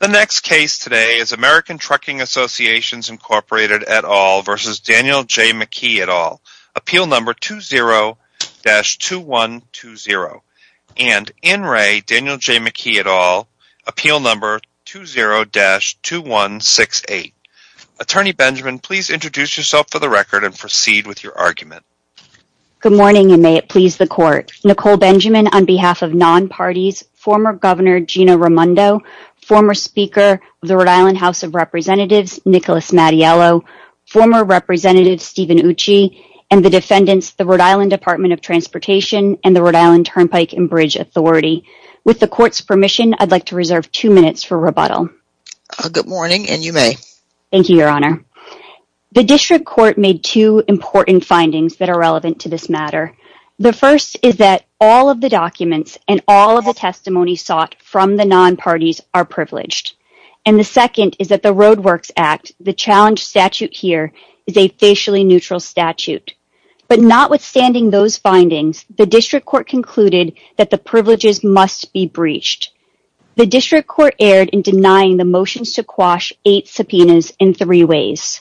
The next case today is American Trucking Associations, Inc. et al. v. Daniel J. McKee et al., Appeal No. 20-2120 and In Re. Daniel J. McKee et al., Appeal No. 20-2168. Attorney Benjamin, please introduce yourself for the record and proceed with your argument. Good morning and may it please the Court. Nicole Benjamin, on behalf of non-parties, former Governor Gina Raimondo, former Speaker of the Rhode Island House of Representatives Nicholas Mattiello, former Representative Stephen Ucci, and the defendants, the Rhode Island Department of Transportation and the Rhode Island Turnpike and Bridge Authority. With the Court's permission, I'd like to reserve two minutes for rebuttal. Good morning and you may. Thank you, Your Honor. The District Court made two important findings that are relevant to this matter. The first is that all of the documents and all of the testimony sought from the non-parties are privileged. And the second is that the Roadworks Act, the challenged statute here, is a facially neutral statute. But notwithstanding those findings, the District Court concluded that the privileges must be breached. The District Court erred in denying the motions to quash eight subpoenas in three ways.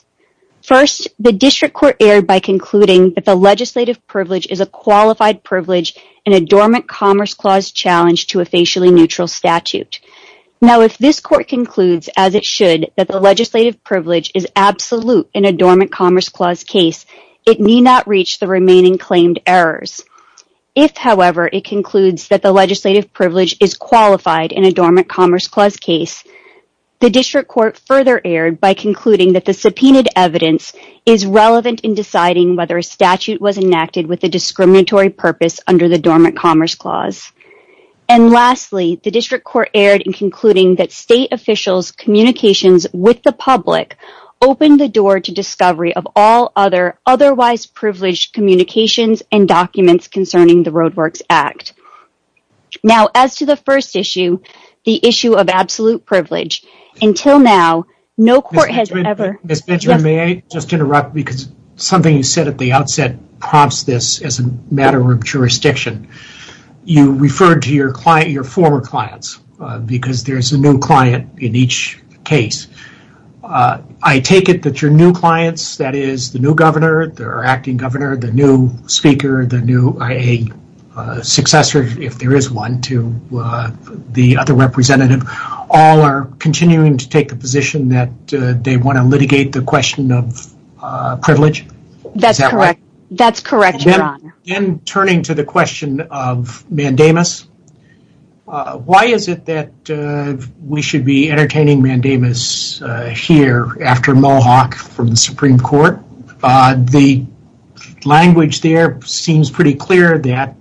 First, the District Court erred by concluding that the legislative privilege is a qualified privilege in a dormant commerce clause challenge to a facially neutral statute. Now, if this Court concludes, as it should, that the legislative privilege is absolute in a dormant commerce clause case, it need not reach the remaining claimed errors. If, however, it concludes that the legislative privilege is qualified in a dormant commerce clause case, the District Court further erred by concluding that the subpoenaed evidence is relevant in deciding whether a statute was enacted with a discriminatory purpose under the dormant commerce clause. And lastly, the District Court erred in concluding that state officials' communications with the public opened the door to discovery of all other otherwise privileged communications and documents concerning the Roadworks Act. Now, as to the first issue, the issue of absolute privilege, until now, no court has ever... Ms. Benjamin, may I just interrupt because something you said at the outset prompts this as a matter of jurisdiction. You referred to your former clients because there's a new client in each case. I take it that your new clients, that is, the new governor, the acting governor, the professor, if there is one, to the other representative, all are continuing to take the position that they want to litigate the question of privilege? Is that right? That's correct. That's correct, Your Honor. Then turning to the question of mandamus, why is it that we should be entertaining mandamus here after Mohawk from the Supreme Court? The language there seems pretty clear that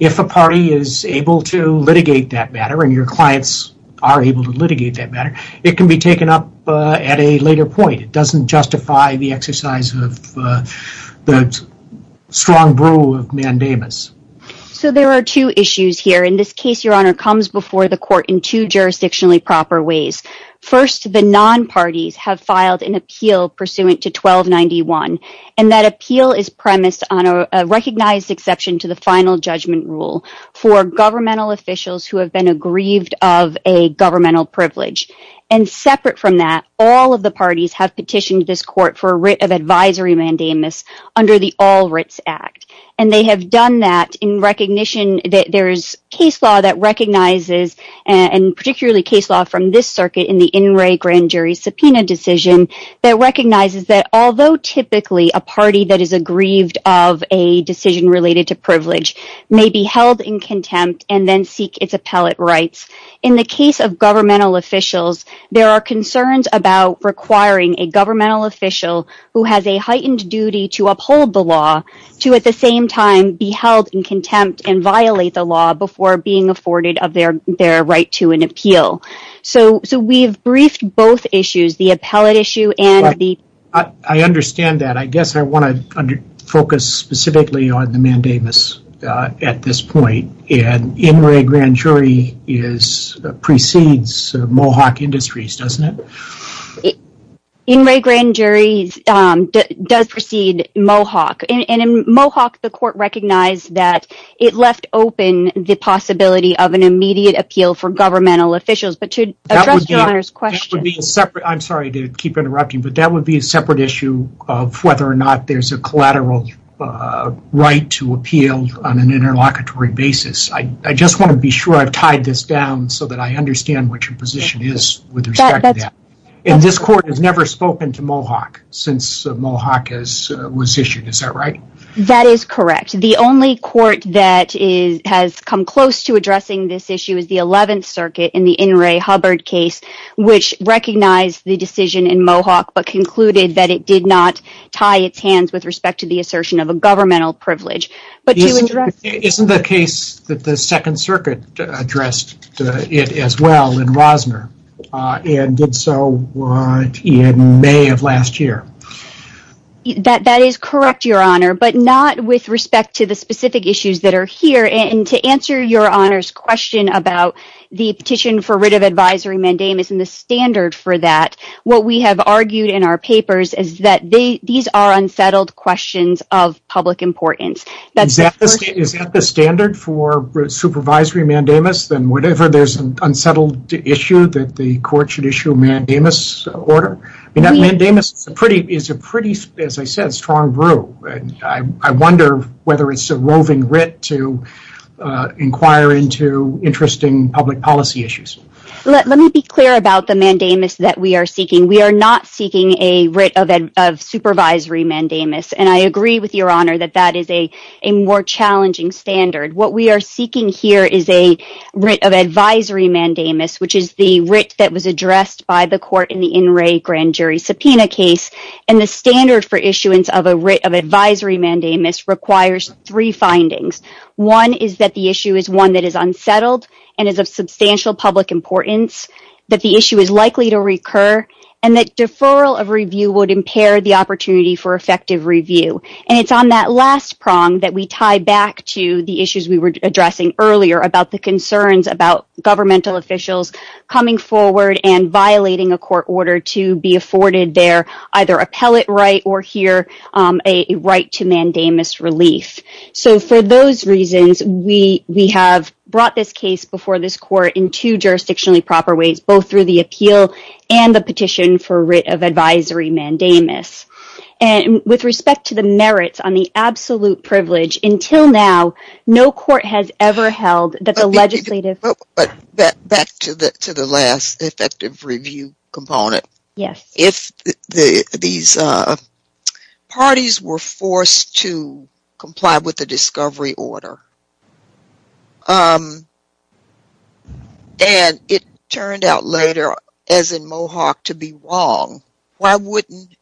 if a party is able to litigate that matter and your clients are able to litigate that matter, it can be taken up at a later point. It doesn't justify the exercise of the strong brew of mandamus. There are two issues here. In this case, Your Honor, comes before the court in two jurisdictionally proper ways. First, the non-parties have filed an appeal pursuant to 1291. That appeal is premised on a recognized exception to the final judgment rule for governmental officials who have been aggrieved of a governmental privilege. Separate from that, all of the parties have petitioned this court for a writ of advisory mandamus under the All Writs Act. They have done that in recognition that there is case law that recognizes, and particularly case law from this circuit in the In Re Grand Jury subpoena decision, that recognizes that although typically a party that is aggrieved of a decision related to privilege may be held in contempt and then seek its appellate rights, in the case of governmental officials, there are concerns about requiring a governmental official who has a heightened duty to uphold the law to at the same time be held in contempt and violate the law before being afforded of their right to an appeal. So we've briefed both issues, the appellate issue and the... I understand that. I guess I want to focus specifically on the mandamus at this point. In Re Grand Jury precedes Mohawk Industries, doesn't it? In Re Grand Jury does precede Mohawk. And in Mohawk, the court recognized that it left open the possibility of an immediate appeal for governmental officials. But to address your Honor's question... That would be a separate... I'm sorry to keep interrupting, but that would be a separate issue of whether or not there's a collateral right to appeal on an interlocutory basis. I just want to be sure I've tied this down so that I understand what your position is with respect to that. And this court has never spoken to Mohawk since Mohawk was issued, is that right? That is correct. The only court that has come close to addressing this issue is the 11th Circuit in the In re Hubbard case, which recognized the decision in Mohawk but concluded that it did not tie its hands with respect to the assertion of a governmental privilege. But to address... Isn't the case that the Second Circuit addressed it as well in Rosner and did so in May of last year? That is correct, your Honor, but not with respect to the specific issues that are here. And to answer your Honor's question about the petition for writ of advisory mandamus and the standard for that, what we have argued in our papers is that these are unsettled questions of public importance. Is that the standard for supervisory mandamus, that whenever there's an unsettled issue that the court should issue a mandamus order? I mean, that mandamus is a pretty, as I said, strong brew. I wonder whether it's a roving writ to inquire into interesting public policy issues. Let me be clear about the mandamus that we are seeking. We are not seeking a writ of supervisory mandamus. And I agree with your Honor that that is a more challenging standard. What we are seeking here is a writ of advisory mandamus, which is the writ that was addressed by the court in the In Re Grand Jury subpoena case. And the standard for issuance of a writ of advisory mandamus requires three findings. One is that the issue is one that is unsettled and is of substantial public importance, that the issue is likely to recur, and that deferral of review would impair the opportunity for effective review. And it's on that last prong that we tie back to the issues we were addressing earlier about the concerns about governmental officials coming forward and violating a court order to be afforded their, either appellate right or here, a right to mandamus relief. So for those reasons, we have brought this case before this court in two jurisdictionally proper ways, both through the appeal and the petition for a writ of advisory mandamus. And with respect to the merits on the absolute privilege, until now, no court has ever held that the legislative- But back to the last effective review component. Yes. If these parties were forced to comply with the discovery order, and it turned out later, as in Mohawk, to be wrong, why wouldn't,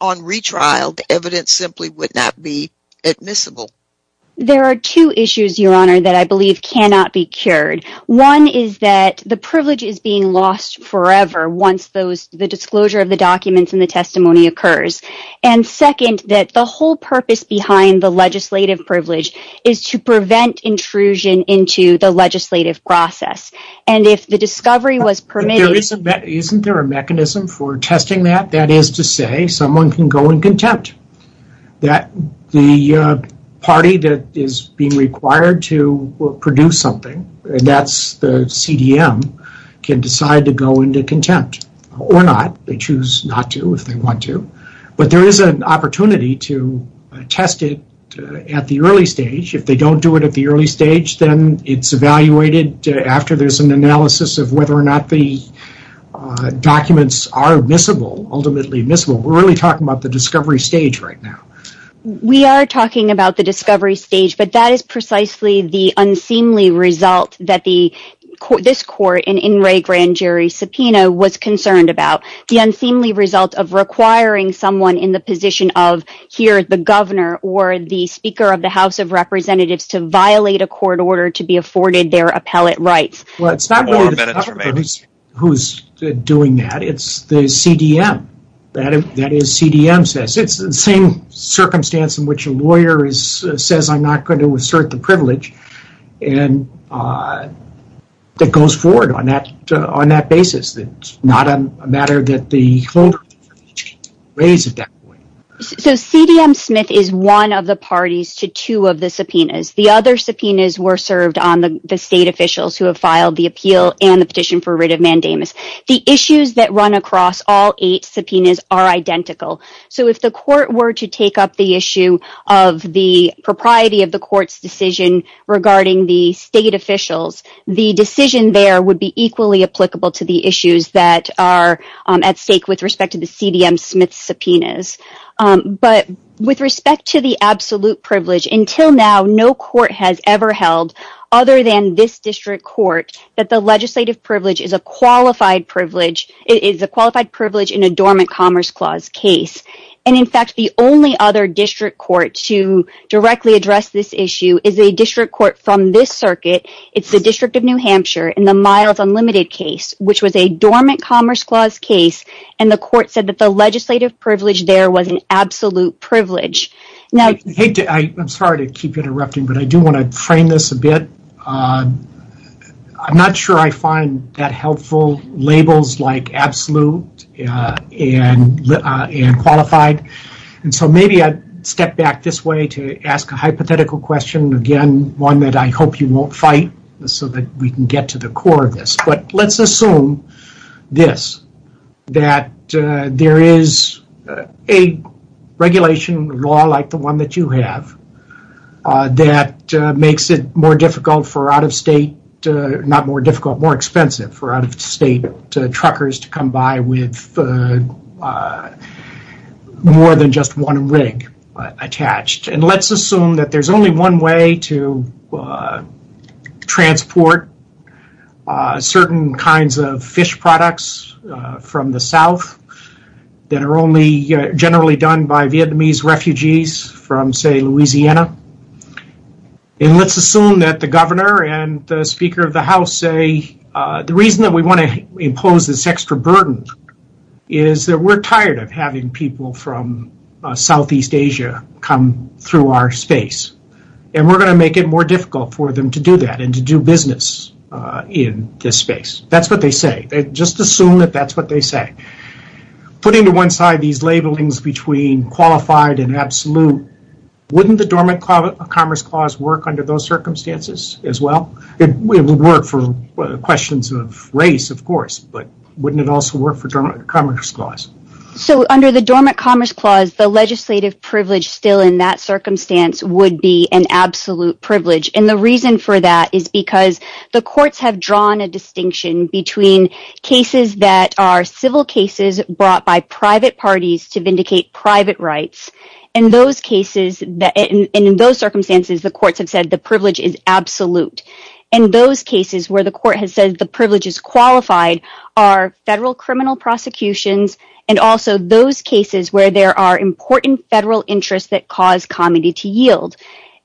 on retrial, the evidence simply would not be admissible? There are two issues, Your Honor, that I believe cannot be cured. One is that the privilege is being lost forever once the disclosure of the documents and the testimony occurs. And second, that the whole purpose behind the legislative privilege is to prevent intrusion into the legislative process. And if the discovery was permitted- Isn't there a mechanism for testing that? That is to say, someone can go and contempt the party that is being required to produce something, and that's the CDM, can decide to go into contempt. Or not. They choose not to, if they want to. But there is an opportunity to test it at the early stage. If they don't do it at the early stage, then it's evaluated after there's an analysis of whether or not the documents are admissible, ultimately admissible. We're really talking about the discovery stage right now. We are talking about the discovery stage, but that is precisely the unseemly result that this court, in Ray Grandjury's subpoena, was concerned about. The unseemly result of requiring someone in the position of, here, the governor or the Speaker of the House of Representatives to violate a court order to be afforded their appellate rights. Well, it's not really the governor who's doing that, it's the CDM. That is, CDM says, it's the same circumstance in which a lawyer says, I'm not going to assert the privilege, and it goes forward on that basis. It's not a matter that the court raised at that point. So CDM Smith is one of the parties to two of the subpoenas. The other subpoenas were served on the state officials who have filed the appeal and the petition for writ of mandamus. The issues that run across all eight subpoenas are identical. So if the court were to take up the issue of the propriety of the court's decision regarding the state officials, the decision there would be equally applicable to the issues that are at stake with respect to the CDM Smith subpoenas. But with respect to the absolute privilege, until now, no court has ever held, other than this district court, that the legislative privilege is a qualified privilege in a dormant Commerce Clause case. And in fact, the only other district court to directly address this issue is a district court from this circuit, it's the District of New Hampshire, in the Miles Unlimited case, which was a dormant Commerce Clause case, and the court said that the legislative privilege there was an absolute privilege. Now, I'm sorry to keep interrupting, but I do want to frame this a bit. I'm not sure I find that helpful, labels like absolute and qualified. And so maybe I'd step back this way to ask a hypothetical question, again, one that I hope you won't fight, so that we can get to the core of this. But let's assume this, that there is a regulation law like the one that you have, that makes it more difficult for out of state, not more difficult, more expensive for out of state truckers to come by with more than just one rig attached. And let's assume that there's only one way to transport certain kinds of fish products from the South that are only generally done by Vietnamese refugees from, say, Louisiana. And let's assume that the governor and the Speaker of the House say, the reason that we want to impose this extra burden is that we're tired of having people from Southeast Asia come through our space, and we're going to make it more difficult for them to do that and to do business in this space. That's what they say. Just assume that that's what they say. Putting to one side these labelings between qualified and absolute, wouldn't the Dormant Commerce Clause work under those circumstances as well? It would work for questions of race, of course, but wouldn't it also work for Dormant Commerce Clause? So, under the Dormant Commerce Clause, the legislative privilege still in that circumstance would be an absolute privilege, and the reason for that is because the courts have drawn a distinction between cases that are civil cases brought by private parties to vindicate private rights, and in those circumstances the courts have said the privilege is absolute. And those cases where the court has said the privilege is qualified are federal criminal prosecutions, and also those cases where there are important federal interests that cause comedy to yield.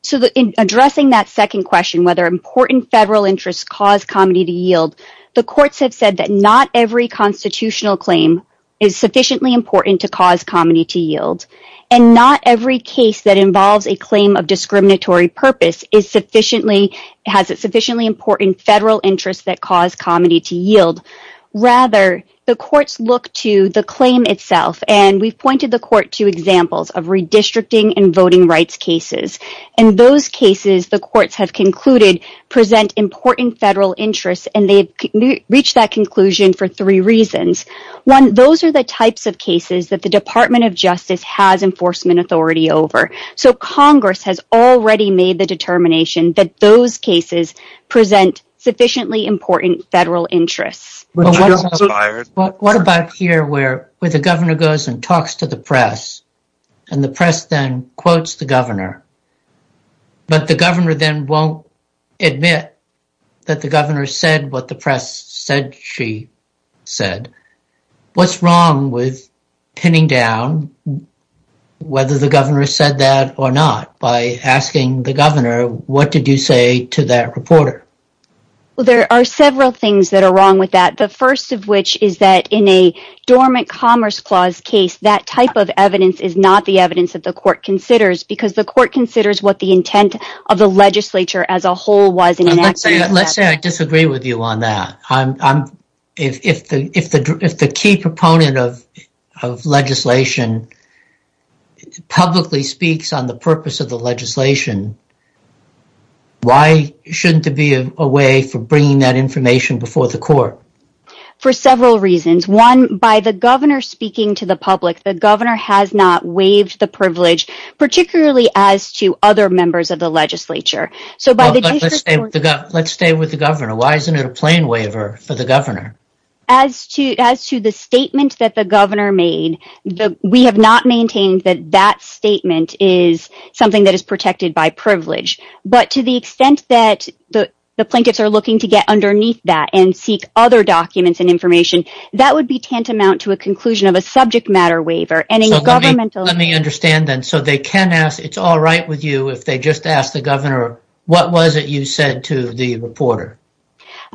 So in addressing that second question, whether important federal interests cause comedy to yield, the courts have said that not every constitutional claim is sufficiently important to cause comedy to yield, and not every case that involves a claim of discriminatory purpose is sufficiently, has a sufficiently important federal interest that cause comedy to yield. Rather, the courts look to the claim itself, and we've pointed the court to examples of redistricting and voting rights cases, and those cases the courts have concluded present important federal interests, and they've reached that conclusion for three reasons. One, those are the types of cases that the Department of Justice has enforcement authority over, so Congress has already made the determination that those cases present sufficiently important federal interests. But what about here, where the governor goes and talks to the press, and the press then quotes the governor, but the governor then won't admit that the governor said what the press said she said. What's wrong with pinning down whether the governor said that or not by asking the governor, what did you say to that reporter? Well, there are several things that are wrong with that, the first of which is that in a dormant Commerce Clause case, that type of evidence is not the evidence that the court considers, because the court considers what the intent of the legislature as a whole was in enacting that. Let's say I disagree with you on that. If the key proponent of legislation publicly speaks on the purpose of the legislation, why shouldn't there be a way for bringing that information before the court? For several reasons, one, by the governor speaking to the public, the governor has not waived the privilege, particularly as to other members of the legislature. Let's stay with the governor. Why isn't it a plain waiver for the governor? As to the statement that the governor made, we have not maintained that that statement is something that is protected by privilege, but to the extent that the plaintiffs are looking to get underneath that and seek other documents and information, that would be tantamount to a conclusion of a subject matter waiver. Let me understand then, so they can ask, it's all right with you if they just ask the governor, what was it you said to the reporter?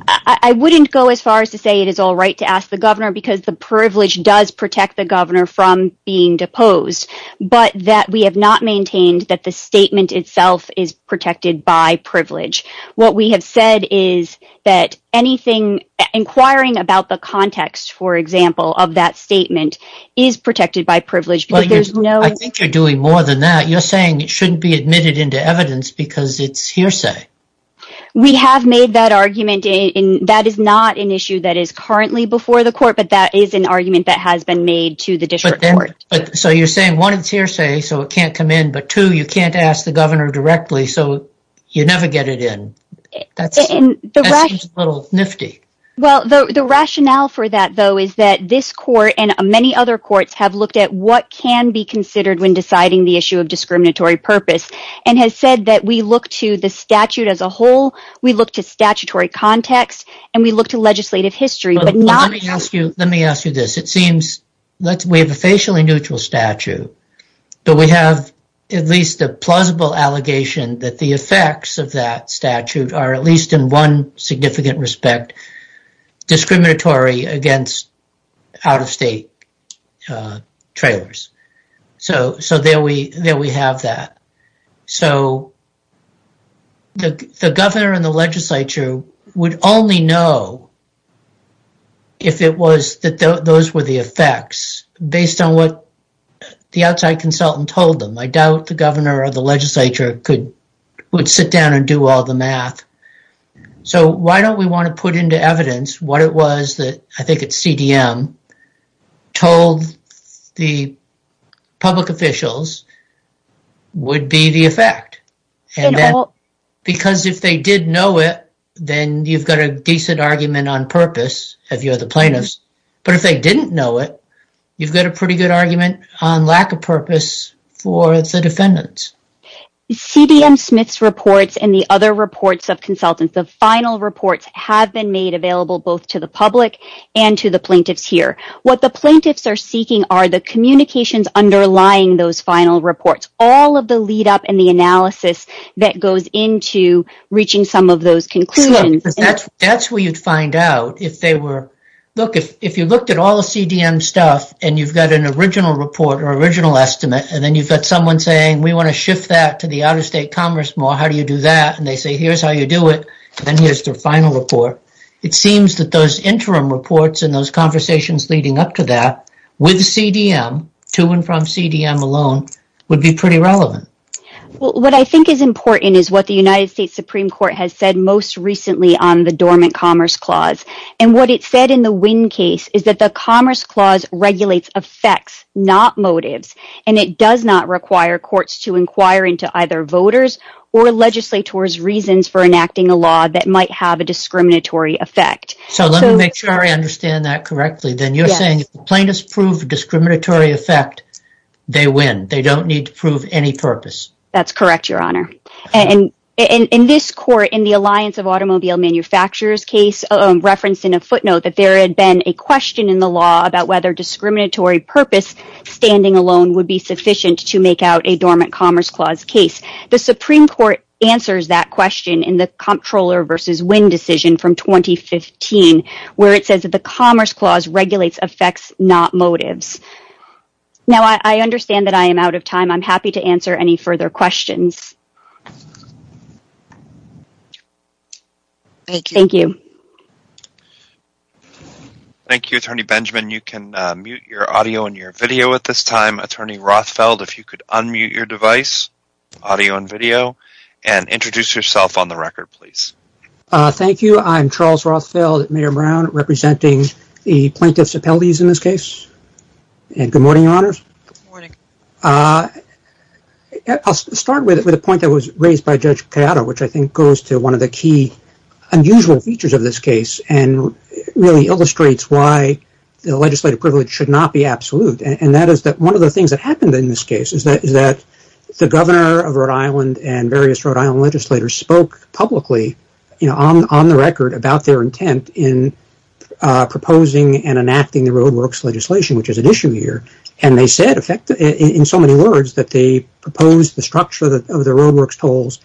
I wouldn't go as far as to say it is all right to ask the governor because the privilege does protect the governor from being deposed, but we have not maintained that the statement itself is protected by privilege. What we have said is that inquiring about the context, for example, of that statement is protected by privilege. I think you're doing more than that. You're saying it shouldn't be admitted into evidence because it's hearsay. We have made that argument. That is not an issue that is currently before the court, but that is an argument that has been made to the district court. So you're saying one, it's hearsay, so it can't come in, but two, you can't ask the governor directly, so you never get it in. That seems a little nifty. The rationale for that, though, is that this court and many other courts have looked at what can be considered when deciding the issue of discriminatory purpose and have said that we look to the statute as a whole, we look to statutory context, and we look to legislative history. Let me ask you this. We have a facially neutral statute, but we have at least a plausible allegation that the effects of that statute are at least in one significant respect discriminatory against out-of-state trailers. So there we have that. So the governor and the legislature would only know if it was that those were the effects based on what the outside consultant told them. I doubt the governor or the legislature would sit down and do all the math. So why don't we want to put into evidence what it was that I think it's CDM told the would be the effect? Because if they did know it, then you've got a decent argument on purpose if you're the plaintiffs. But if they didn't know it, you've got a pretty good argument on lack of purpose for the defendants. CDM Smith's reports and the other reports of consultants, the final reports have been made available both to the public and to the plaintiffs here. What the plaintiffs are seeking are the communications underlying those final reports. It's all of the lead up and the analysis that goes into reaching some of those conclusions. That's where you'd find out if they were, look, if you looked at all the CDM stuff and you've got an original report or original estimate, and then you've got someone saying we want to shift that to the out-of-state commerce more, how do you do that? And they say, here's how you do it, and then here's their final report. It seems that those interim reports and those conversations leading up to that with CDM to and from CDM alone would be pretty relevant. What I think is important is what the United States Supreme Court has said most recently on the dormant commerce clause. And what it said in the Winn case is that the commerce clause regulates effects, not motives, and it does not require courts to inquire into either voters or legislators' reasons for enacting a law that might have a discriminatory effect. So let me make sure I understand that correctly. You're saying if the plaintiffs prove a discriminatory effect, they win. They don't need to prove any purpose. That's correct, Your Honor. In this court, in the Alliance of Automobile Manufacturers case referenced in a footnote that there had been a question in the law about whether discriminatory purpose standing alone would be sufficient to make out a dormant commerce clause case, the Supreme Court answers that question in the Comptroller v. Winn decision from 2015, where it says that the commerce clause regulates effects, not motives. Now, I understand that I am out of time. I'm happy to answer any further questions. Thank you. Thank you. Thank you, Attorney Benjamin. You can mute your audio and your video at this time. Attorney Rothfeld, if you could unmute your device, audio and video, and introduce yourself on the record, please. Thank you. I'm Charles Rothfeld, Mayor Brown, representing the Plaintiffs Appellees in this case. Good morning, Your Honors. I'll start with a point that was raised by Judge Piatto, which I think goes to one of the key unusual features of this case and really illustrates why the legislative privilege should not be absolute. One of the things that happened in this case is that the governor of Rhode Island and various about their intent in proposing and enacting the roadworks legislation, which is an issue here. They said in so many words that they proposed the structure of the roadworks tolls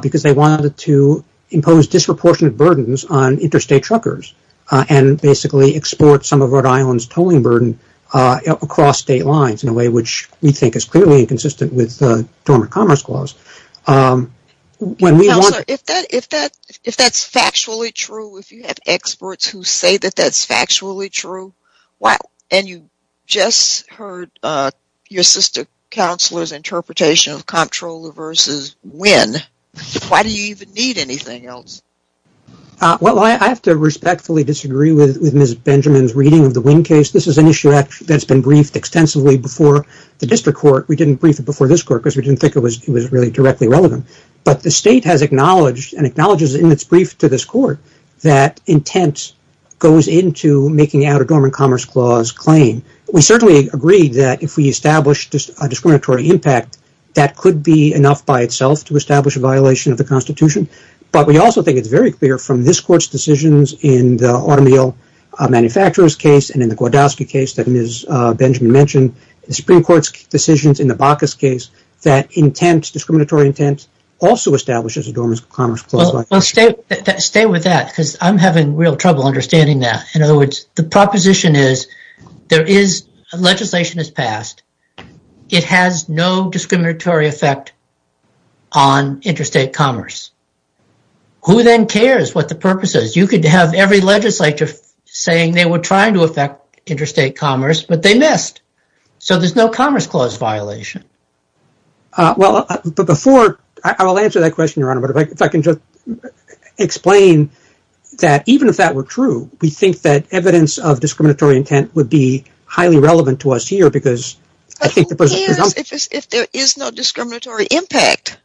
because they wanted to impose disproportionate burdens on interstate truckers and basically export some of Rhode Island's tolling burden across state lines in a way which we think is clearly inconsistent with the Dormant Commerce Clause. Counselor, if that's factually true, if you have experts who say that that's factually true, and you just heard your sister counselor's interpretation of Comptroller v. Winn, why do you even need anything else? Well, I have to respectfully disagree with Ms. Benjamin's reading of the Winn case. This is an issue that's been briefed extensively before the district court. We didn't brief it before this court because we didn't think it was really directly relevant, but the state has acknowledged and acknowledges in its brief to this court that intent goes into making out a Dormant Commerce Clause claim. We certainly agreed that if we established a discriminatory impact, that could be enough by itself to establish a violation of the Constitution, but we also think it's very clear from this court's decisions in the automobile manufacturer's case and in the BACA's case that discriminatory intent also establishes a Dormant Commerce Clause violation. Stay with that because I'm having real trouble understanding that. In other words, the proposition is legislation has passed. It has no discriminatory effect on interstate commerce. Who then cares what the purpose is? You could have every legislature saying they were trying to affect interstate commerce, but they missed. So there's no Commerce Clause violation. I will answer that question, Your Honor, but if I can just explain that even if that were true, we think that evidence of discriminatory intent would be highly relevant to us here because I think... But who cares if there is no discriminatory impact?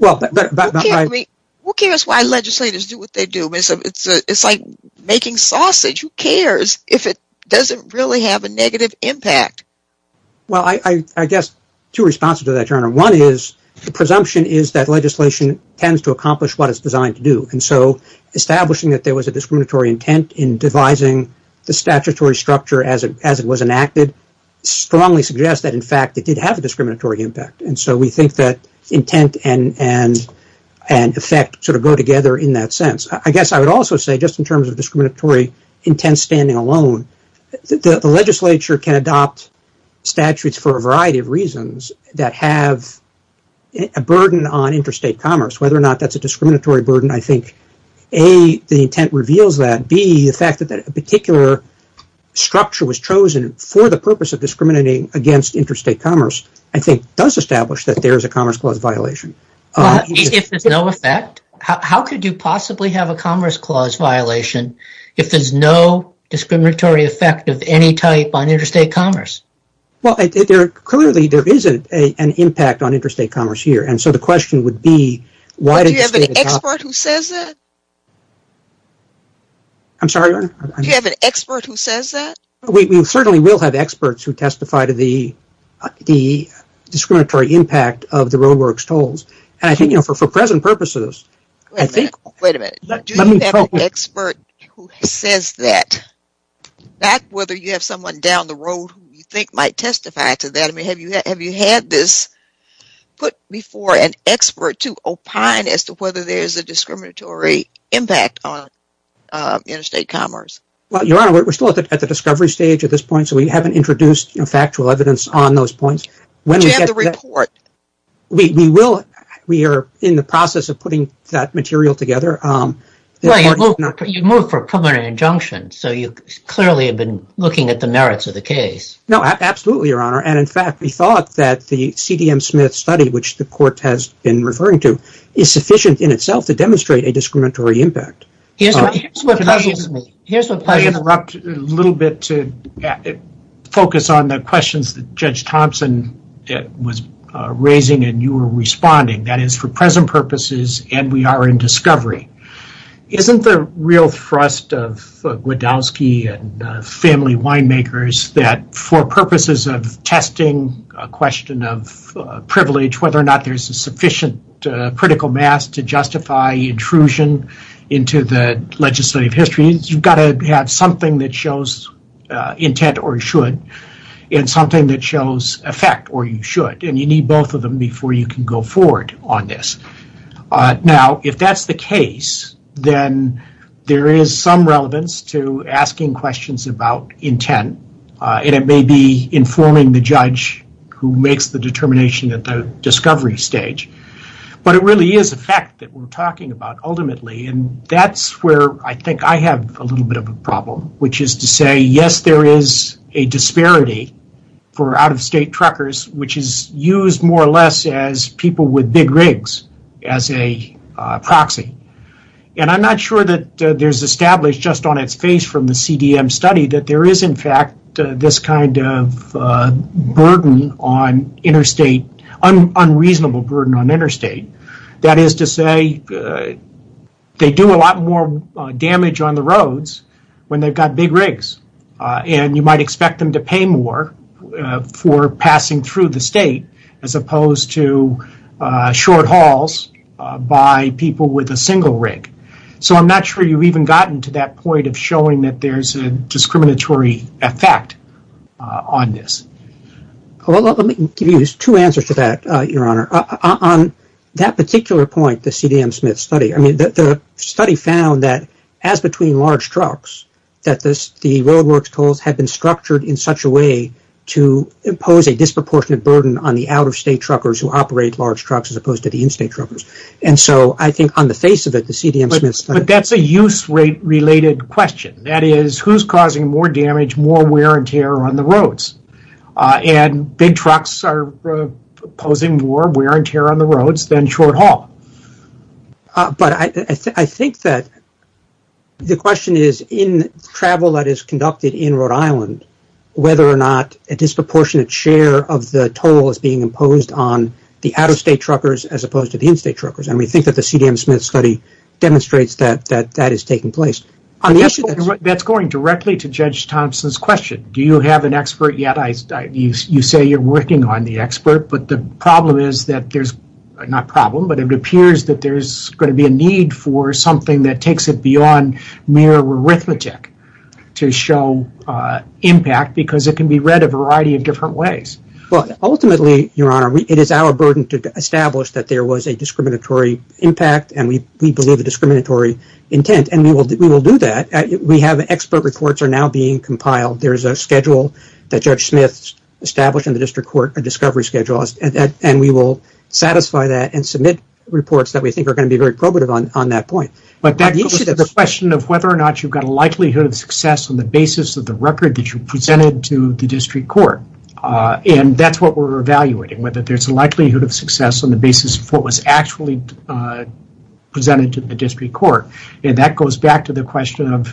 Who cares why legislators do what they do? It's like making sausage. Who cares if it doesn't really have a negative impact? Well, I guess two responses to that, Your Honor. One is the presumption is that legislation tends to accomplish what it's designed to do and so establishing that there was a discriminatory intent in devising the statutory structure as it was enacted strongly suggests that in fact it did have a discriminatory impact and so we think that intent and effect sort of go together in that sense. I guess I would also say just in terms of discriminatory intent standing alone, the legislature can adopt statutes for a variety of reasons that have a burden on interstate commerce, whether or not that's a discriminatory burden. I think A, the intent reveals that, B, the fact that a particular structure was chosen for the purpose of discriminating against interstate commerce I think does establish that there is a Commerce Clause violation. If there's no effect, how could you possibly have a Commerce Clause violation if there's no discriminatory effect of any type on interstate commerce? Well, clearly there isn't an impact on interstate commerce here and so the question would be why did the state adopt it? Do you have an expert who says that? I'm sorry, Your Honor? Do you have an expert who says that? We certainly will have experts who testify to the discriminatory impact of the Roadworks tolls and I think, you know, for present purposes, I think... Wait a minute. Do you have an expert who says that, not whether you have someone down the road who you think might testify to that? I mean, have you had this put before an expert to opine as to whether there's a discriminatory impact on interstate commerce? Well, Your Honor, we're still at the discovery stage at this point so we haven't introduced factual evidence on those points. When we get... Do you have the report? We will. We are in the process of putting that material together. Well, you moved for a preliminary injunction so you clearly have been looking at the merits of the case. No, absolutely, Your Honor, and in fact, we thought that the C.D.M. Smith study, which the court has been referring to, is sufficient in itself to demonstrate a discriminatory Here's what puzzles me. Here's what puzzles me. I want to interrupt a little bit to focus on the questions that Judge Thompson was raising and you were responding. That is, for present purposes and we are in discovery. Isn't the real thrust of Gwodowski and family winemakers that for purposes of testing a question of privilege, whether or not there's a sufficient critical mass to justify intrusion into the legislative history, you've got to have something that shows intent or should and something that shows effect or you should and you need both of them before you can go forward on this. Now, if that's the case, then there is some relevance to asking questions about intent and it may be informing the judge who makes the determination at the discovery stage, but it really is a fact that we're talking about ultimately and that's where I think I have a little bit of a problem, which is to say, yes, there is a disparity for out of state truckers, which is used more or less as people with big rigs as a proxy. I'm not sure that there's established just on its face from the CDM study that there on interstate, that is to say, they do a lot more damage on the roads when they've got big rigs and you might expect them to pay more for passing through the state as opposed to short hauls by people with a single rig. I'm not sure you've even gotten to that point of showing that there's a discriminatory effect on this. Let me give you two answers to that, Your Honor. On that particular point, the CDM-Smith study, the study found that as between large trucks, that the roadworks tolls have been structured in such a way to impose a disproportionate burden on the out of state truckers who operate large trucks as opposed to the in-state truckers. I think on the face of it, the CDM-Smith study... That's a use rate related question, that is who's causing more damage, more wear and tear on the roads and big trucks are posing more wear and tear on the roads than short haul. I think that the question is in travel that is conducted in Rhode Island, whether or not a disproportionate share of the toll is being imposed on the out of state truckers as opposed to the in-state truckers. We think that the CDM-Smith study demonstrates that that is taking place. That's going directly to Judge Thompson's question. Do you have an expert yet? You say you're working on the expert, but the problem is that there's... Not problem, but it appears that there's going to be a need for something that takes it beyond mere arithmetic to show impact because it can be read a variety of different ways. Ultimately, Your Honor, it is our burden to establish that there was a discriminatory impact and we believe a discriminatory intent and we will do that. We have expert reports are now being compiled. There's a schedule that Judge Smith established in the district court, a discovery schedule, and we will satisfy that and submit reports that we think are going to be very probative on that point. But that goes to the question of whether or not you've got a likelihood of success on the basis of the record that you presented to the district court. That's what we're evaluating, whether there's a likelihood of success on the basis of what was actually presented to the district court. That goes back to the question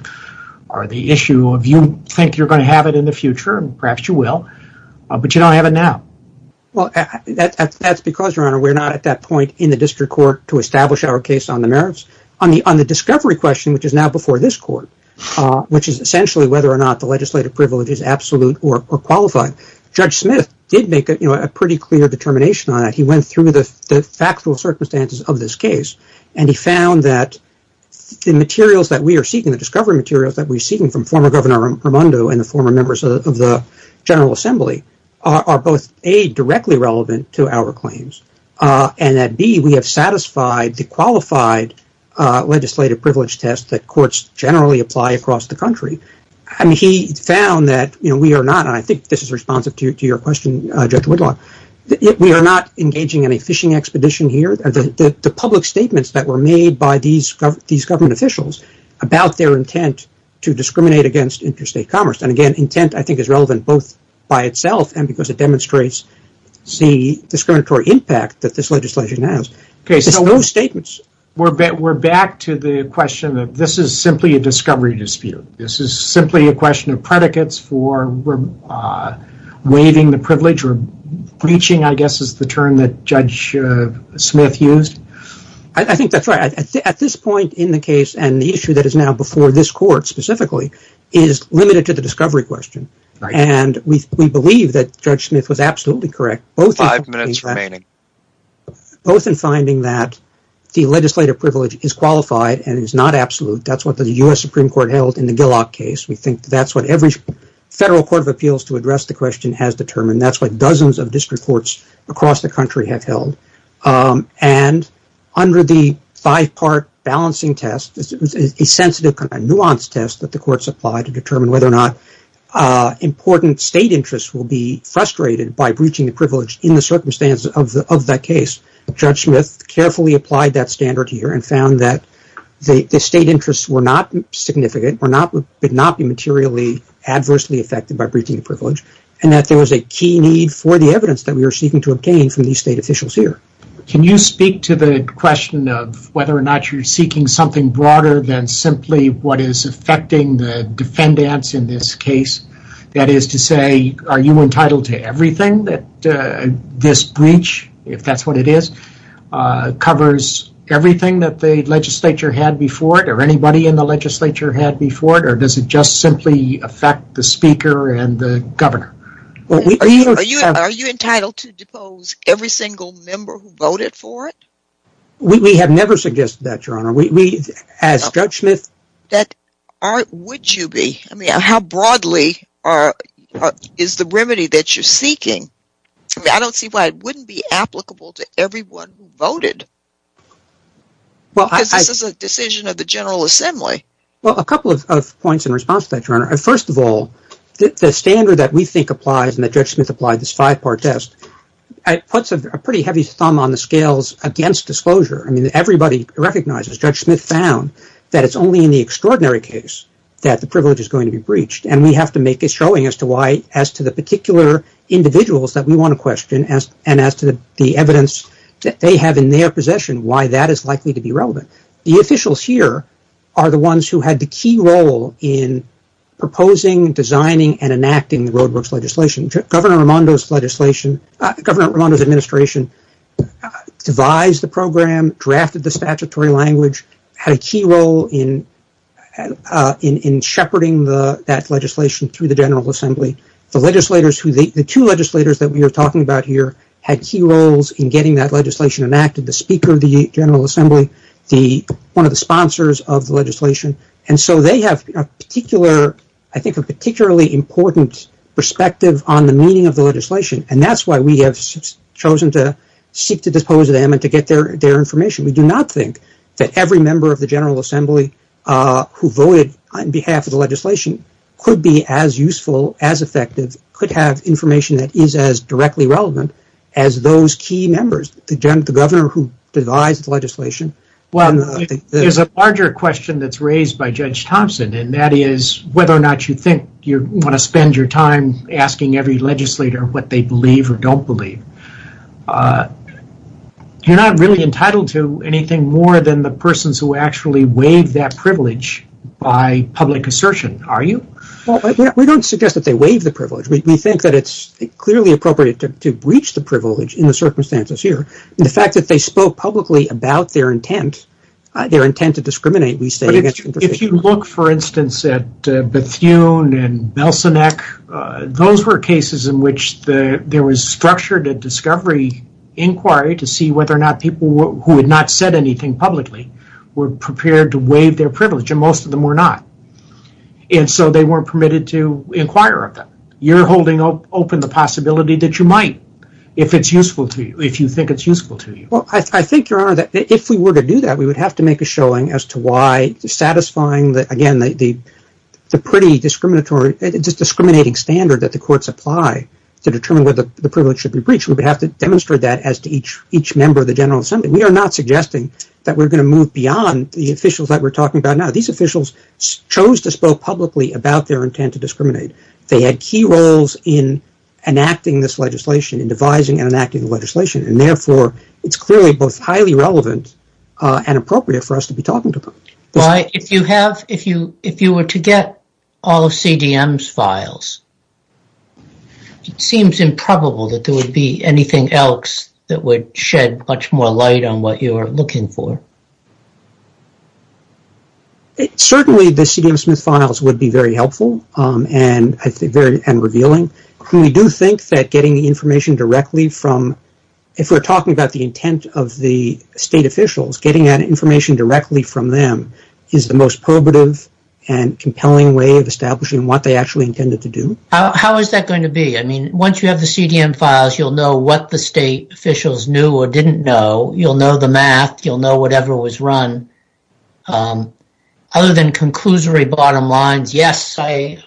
or the issue of you think you're going to have it in the future and perhaps you will, but you don't have it now. That's because, Your Honor, we're not at that point in the district court to establish our case on the merits. On the discovery question, which is now before this court, which is essentially whether or not the legislative privilege is absolute or qualified, Judge Smith did make a pretty clear determination on that. He went through the factual circumstances of this case and he found that the discovery materials that we're seeking from former Governor Raimondo and the former members of the General Assembly are both, A, directly relevant to our claims and that, B, we have satisfied the qualified legislative privilege test that courts generally apply across the country. He found that we are not, and I think this is responsive to your question, Judge Whitlock, we are not engaging in a fishing expedition here. The public statements that were made by these government officials about their intent to discriminate against interstate commerce, and again, intent I think is relevant both by itself and because it demonstrates the discriminatory impact that this legislation has. It's those statements. We're back to the question that this is simply a discovery dispute. This is simply a question of predicates for waiving the privilege or breaching, I guess, is the term that Judge Smith used. I think that's right. At this point in the case and the issue that is now before this court specifically is limited to the discovery question and we believe that Judge Smith was absolutely correct, both in finding that the legislative privilege is qualified and is not absolute. That's what the U.S. Supreme Court held in the Gillock case. We think that's what every federal court of appeals to address the question has determined. That's what dozens of district courts across the country have held. Under the five-part balancing test, a sensitive, nuanced test that the courts apply to determine whether or not important state interests will be frustrated by breaching the privilege in the circumstance of that case, Judge Smith carefully applied that standard here and found that the state interests were not significant, did not be materially adversely affected by breaching the privilege and that there was a key need for the evidence that we are seeking to obtain from these state officials here. Can you speak to the question of whether or not you're seeking something broader than simply what is affecting the defendants in this case? That is to say, are you entitled to everything that this breach, if that's what it is, covers everything that the legislature had before it or anybody in the legislature had before it or does it just simply affect the speaker and the governor? Are you entitled to depose every single member who voted for it? We have never suggested that, Your Honor. As Judge Smith... Would you be? I mean, how broadly is the remedy that you're seeking? I don't see why it wouldn't be applicable to everyone who voted. This is a decision of the General Assembly. Well, a couple of points in response to that, Your Honor. First of all, the standard that we think applies and that Judge Smith applied, this five-part test, puts a pretty heavy thumb on the scales against disclosure. I mean, everybody recognizes, Judge Smith found, that it's only in the extraordinary case that the privilege is going to be breached and we have to make a showing as to why, as we want to question and as to the evidence that they have in their possession, why that is likely to be relevant. The officials here are the ones who had the key role in proposing, designing, and enacting the roadworks legislation. Governor Raimondo's administration devised the program, drafted the statutory language, had a key role in shepherding that legislation through the General Assembly. The two legislators that we are talking about here had key roles in getting that legislation enacted, the speaker of the General Assembly, one of the sponsors of the legislation, and so they have, I think, a particularly important perspective on the meaning of the legislation and that's why we have chosen to seek to dispose of them and to get their information. We do not think that every member of the General Assembly who voted on behalf of the legislation could be as useful, as effective, could have information that is as directly relevant as those key members, the governor who devised the legislation. There's a larger question that's raised by Judge Thompson and that is whether or not you think you want to spend your time asking every legislator what they believe or don't believe. You're not really entitled to anything more than the persons who actually waive that privilege by public assertion, are you? We don't suggest that they waive the privilege. We think that it's clearly appropriate to breach the privilege in the circumstances here and the fact that they spoke publicly about their intent, their intent to discriminate, we say that's interesting. If you look, for instance, at Bethune and Belsenek, those were cases in which there was structured a discovery inquiry to see whether or not people who had not said anything publicly were prepared to waive their privilege and most of them were not, and so they weren't permitted to inquire of them. You're holding open the possibility that you might if you think it's useful to you. I think, Your Honor, that if we were to do that, we would have to make a showing as to why satisfying the pretty discriminating standard that the courts apply to determine whether the privilege should be breached, we would have to demonstrate that as to each member of the General Assembly. We are not suggesting that we're going to move beyond the officials that we're talking about now. These officials chose to spoke publicly about their intent to discriminate. They had key roles in enacting this legislation, in devising and enacting the legislation, and therefore, it's clearly both highly relevant and appropriate for us to be talking to them. Why, if you were to get all of CDM's files, it seems improbable that there would be anything else that would shed much more light on what you are looking for. Certainly, the CDM Smith files would be very helpful and revealing. We do think that getting the information directly from, if we're talking about the intent of the state officials, getting that information directly from them is the most probative and compelling way of establishing what they actually intended to do. How is that going to be? Once you have the CDM files, you'll know what the state officials knew or didn't know. You'll know the math. You'll know whatever was run. Other than conclusory bottom lines, yes,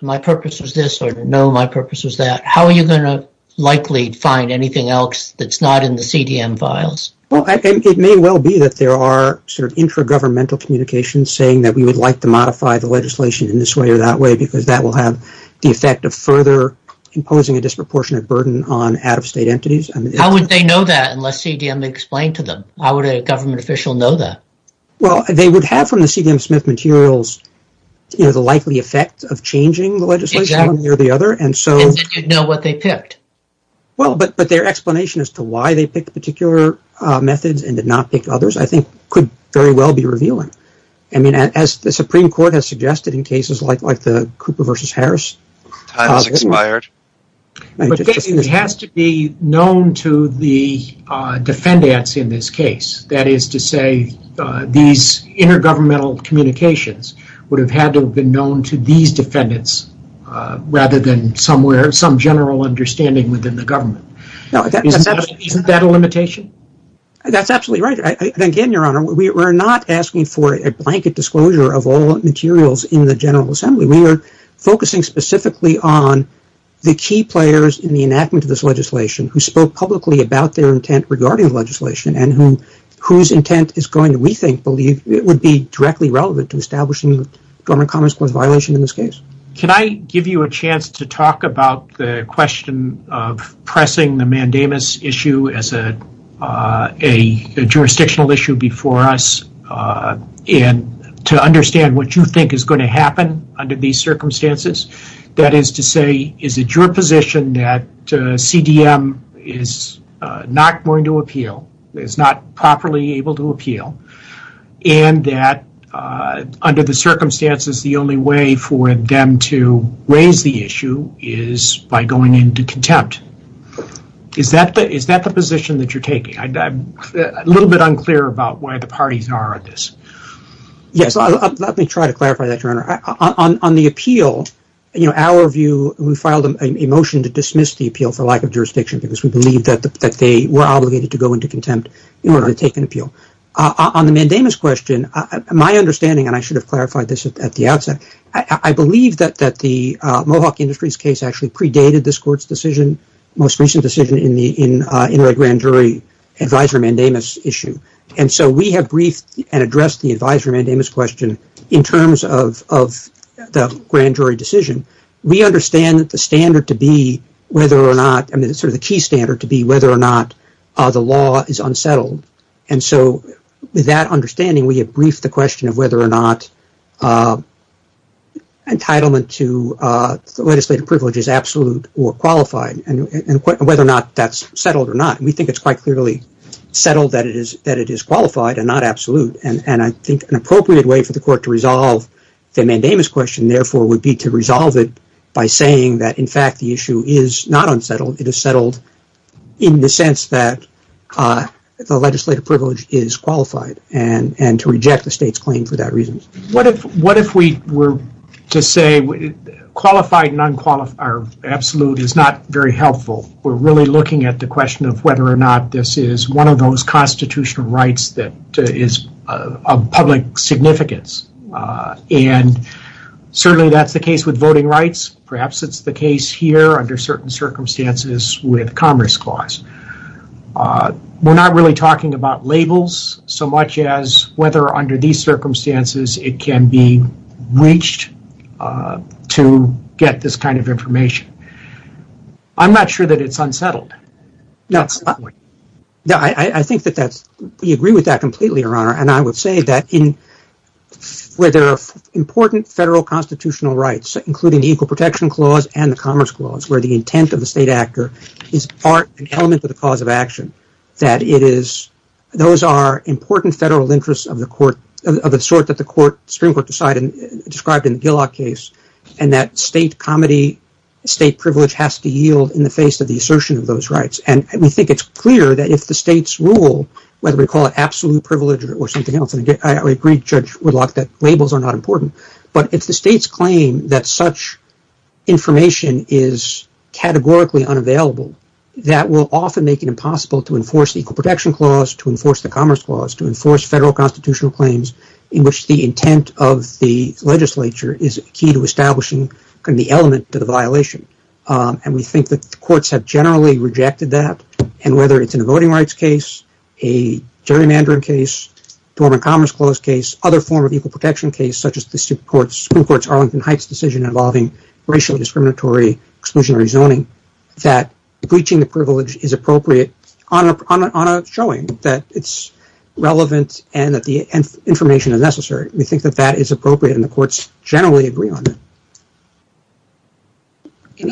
my purpose was this, or no, my purpose was that, how are you going to likely find anything else that's not in the CDM files? It may well be that there are intra-governmental communications saying that we would like to modify the legislation in this way or that way because that will have the effect of further imposing a disproportionate burden on out-of-state entities. How would they know that unless CDM explained to them? How would a government official know that? They would have from the CDM Smith materials the likely effect of changing the legislation one way or the other. Then you'd know what they picked. Their explanation as to why they picked particular methods and did not pick others I think could very well be revealing. As the Supreme Court has suggested in cases like the Cooper v. Harris, it has to be known to the defendants in this case. That is to say these inter-governmental communications would have had to have been known to these defendants rather than some general understanding within the government. Isn't that a limitation? That's absolutely right. Again, Your Honor, we are not asking for a blanket disclosure of all materials in the General Assembly. We are focusing specifically on the key players in the enactment of this legislation who spoke publicly about their intent regarding the legislation and whose intent is going to we think would be directly relevant to establishing the Government Commerce Clause violation in this case. Can I give you a chance to talk about the question of pressing the mandamus issue as a jurisdictional issue before us and to understand what you think is going to happen under these circumstances? That is to say, is it your position that CDM is not going to appeal, is not properly able to appeal, and that under the circumstances, the only way for them to raise the issue is by going into contempt? Is that the position that you are taking? I'm a little bit unclear about where the parties are on this. Yes, let me try to clarify that, Your Honor. On the appeal, our view, we filed a motion to dismiss the appeal for lack of jurisdiction because we believe that they were obligated to go into contempt in order to take an appeal. On the mandamus question, my understanding, and I should have clarified this at the outset, I believe that the Mohawk Industries case actually predated this Court's decision, most recent decision in the grand jury advisory mandamus issue. We have briefed and addressed the advisory mandamus question in terms of the grand jury decision. We understand that the standard to be, sort of the key standard to be whether or not the law is unsettled, and so with that understanding, we have briefed the question of whether or not entitlement to legislative privilege is absolute or qualified and whether or not that's settled or not. We think it's quite clearly settled that it is qualified and not absolute, and I think an appropriate way for the Court to resolve the mandamus question, therefore, would be to resolve it by saying that, in fact, the issue is not unsettled. It is settled in the sense that the legislative privilege is qualified and to reject the State's claim for that reason. What if we were to say qualified and absolute is not very helpful? We're really looking at the question of whether or not this is one of those constitutional rights that is of public significance, and certainly that's the case with voting rights. Perhaps it's the case here under certain circumstances with Congress clause. We're not really talking about labels so much as whether under these circumstances it can be reached to get this kind of information. I'm not sure that it's unsettled. We agree with that completely, Your Honor, and I would say that where there are important federal constitutional rights, including the Equal Protection Clause and the Commerce Clause, where the intent of the State actor is part and element of the cause of action, those are important federal interests of the sort that the Supreme Court decided and described in the Gillock case, and that State privilege has to yield in the face of the assertion of those rights. We think it's clear that if the State's rule, whether we call it absolute privilege or something else, and I agree, Judge Woodlock, that labels are not important, but if the State's claim that such information is categorically unavailable, that will often make it impossible to enforce the Equal Protection Clause, to enforce the Commerce Clause, to enforce federal constitutional claims in which the intent of the legislature is key to establishing the element to the and whether it's in a voting rights case, a gerrymandering case, a Dormant Commerce Clause case, other form of Equal Protection case, such as the Supreme Court's Arlington Heights decision involving racially discriminatory exclusionary zoning, that breaching the privilege is appropriate on a showing that it's relevant and that the information is necessary. We think that that is appropriate and the courts generally agree on it.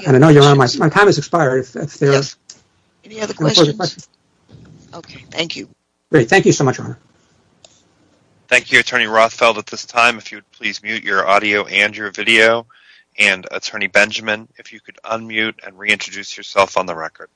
I know you're on, my time has expired. Yes, any other questions? Okay, thank you. Great, thank you so much, Ron. Thank you, Attorney Rothfeld. At this time, if you would please mute your audio and your video, and Attorney Benjamin, if you could unmute and reintroduce yourself on the record.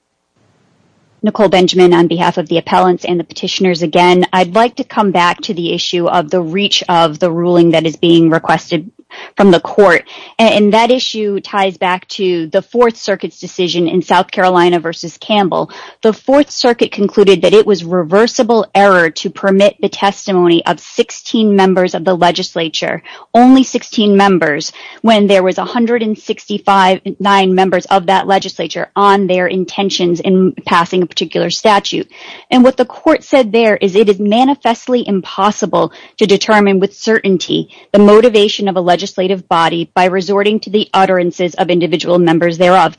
Nicole Benjamin on behalf of the appellants and the petitioners again, I'd like to come back to the issue of the reach of the ruling that is being requested from the court, and that issue ties back to the Fourth Circuit's decision in South Carolina v. Campbell. The Fourth Circuit concluded that it was reversible error to permit the testimony of 16 members of the legislature, only 16 members, when there was 169 members of that legislature on their intentions in passing a particular statute. And what the court said there is it is manifestly impossible to determine with certainty the utterances of individual members thereof,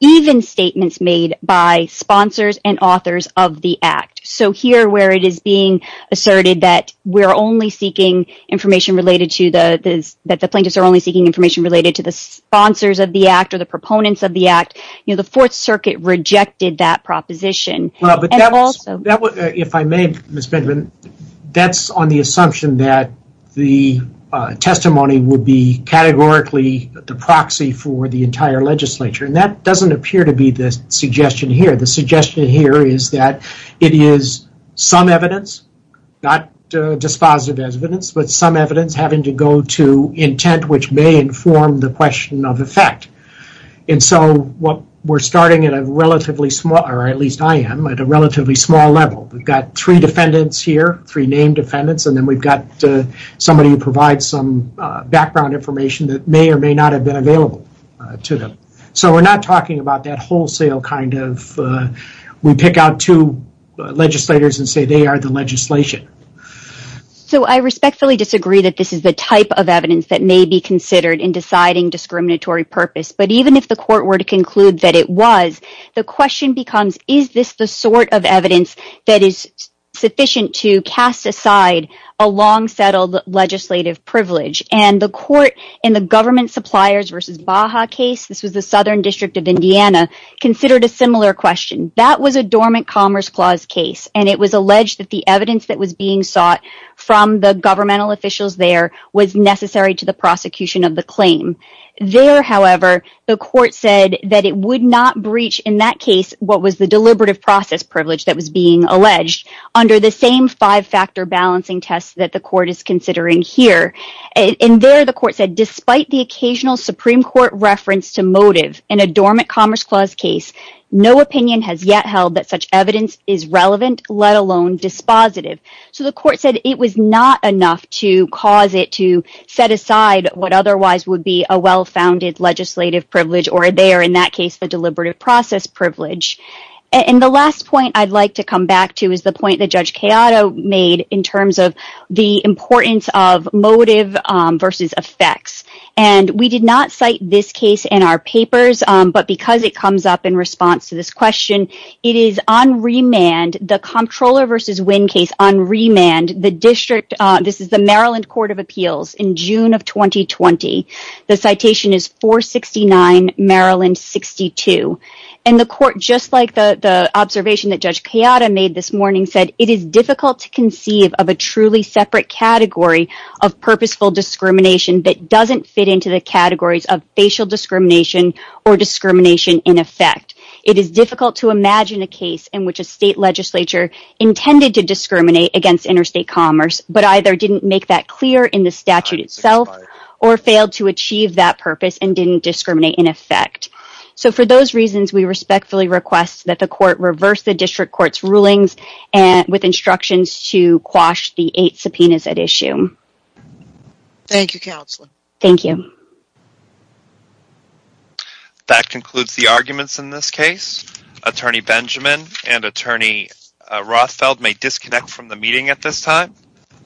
even statements made by sponsors and authors of the act. So here, where it is being asserted that we're only seeking information related to the, that the plaintiffs are only seeking information related to the sponsors of the act or the proponents of the act, you know, the Fourth Circuit rejected that proposition. Well, but that was, if I may, Ms. Benjamin, that's on the assumption that the testimony would be categorically the proxy for the entire legislature, and that doesn't appear to be the suggestion here. The suggestion here is that it is some evidence, not dispositive evidence, but some evidence having to go to intent which may inform the question of effect. And so what we're starting at a relatively small, or at least I am, at a relatively small level. We've got three defendants here, three named defendants, and then we've got somebody who has some background information that may or may not have been available to them. So we're not talking about that wholesale kind of, we pick out two legislators and say they are the legislation. So I respectfully disagree that this is the type of evidence that may be considered in deciding discriminatory purpose, but even if the court were to conclude that it was, the question becomes, is this the sort of evidence that is sufficient to cast aside a long-settled legislative privilege? And the court in the government suppliers versus Baja case, this was the Southern District of Indiana, considered a similar question. That was a dormant commerce clause case, and it was alleged that the evidence that was being sought from the governmental officials there was necessary to the prosecution of the claim. There, however, the court said that it would not breach, in that case, what was the deliberative process privilege that was being alleged under the same five-factor balancing test that the court is considering here. And there the court said, despite the occasional Supreme Court reference to motive in a dormant commerce clause case, no opinion has yet held that such evidence is relevant, let alone dispositive. So the court said it was not enough to cause it to set aside what otherwise would be a well-founded legislative privilege, or there, in that case, the deliberative process privilege. And the last point I'd like to come back to is the point that Judge Chiodo made in terms of the importance of motive versus effects. And we did not cite this case in our papers, but because it comes up in response to this question, it is on remand, the Comptroller v. Winn case, on remand, the district, this is the Maryland Court of Appeals, in June of 2020, the citation is 469, Maryland 62. And the court, just like the observation that Judge Chiodo made this morning, said it is difficult to conceive of a truly separate category of purposeful discrimination that doesn't fit into the categories of facial discrimination or discrimination in effect. It is difficult to imagine a case in which a state legislature intended to discriminate against interstate commerce, but either didn't make that clear in the statute itself or failed to achieve that purpose and didn't discriminate in effect. So for those reasons, we respectfully request that the court reverse the district court's rulings with instructions to quash the eight subpoenas at issue. Thank you, Counselor. Thank you. That concludes the arguments in this case. Attorney Benjamin and Attorney Rothfeld may disconnect from the meeting at this time.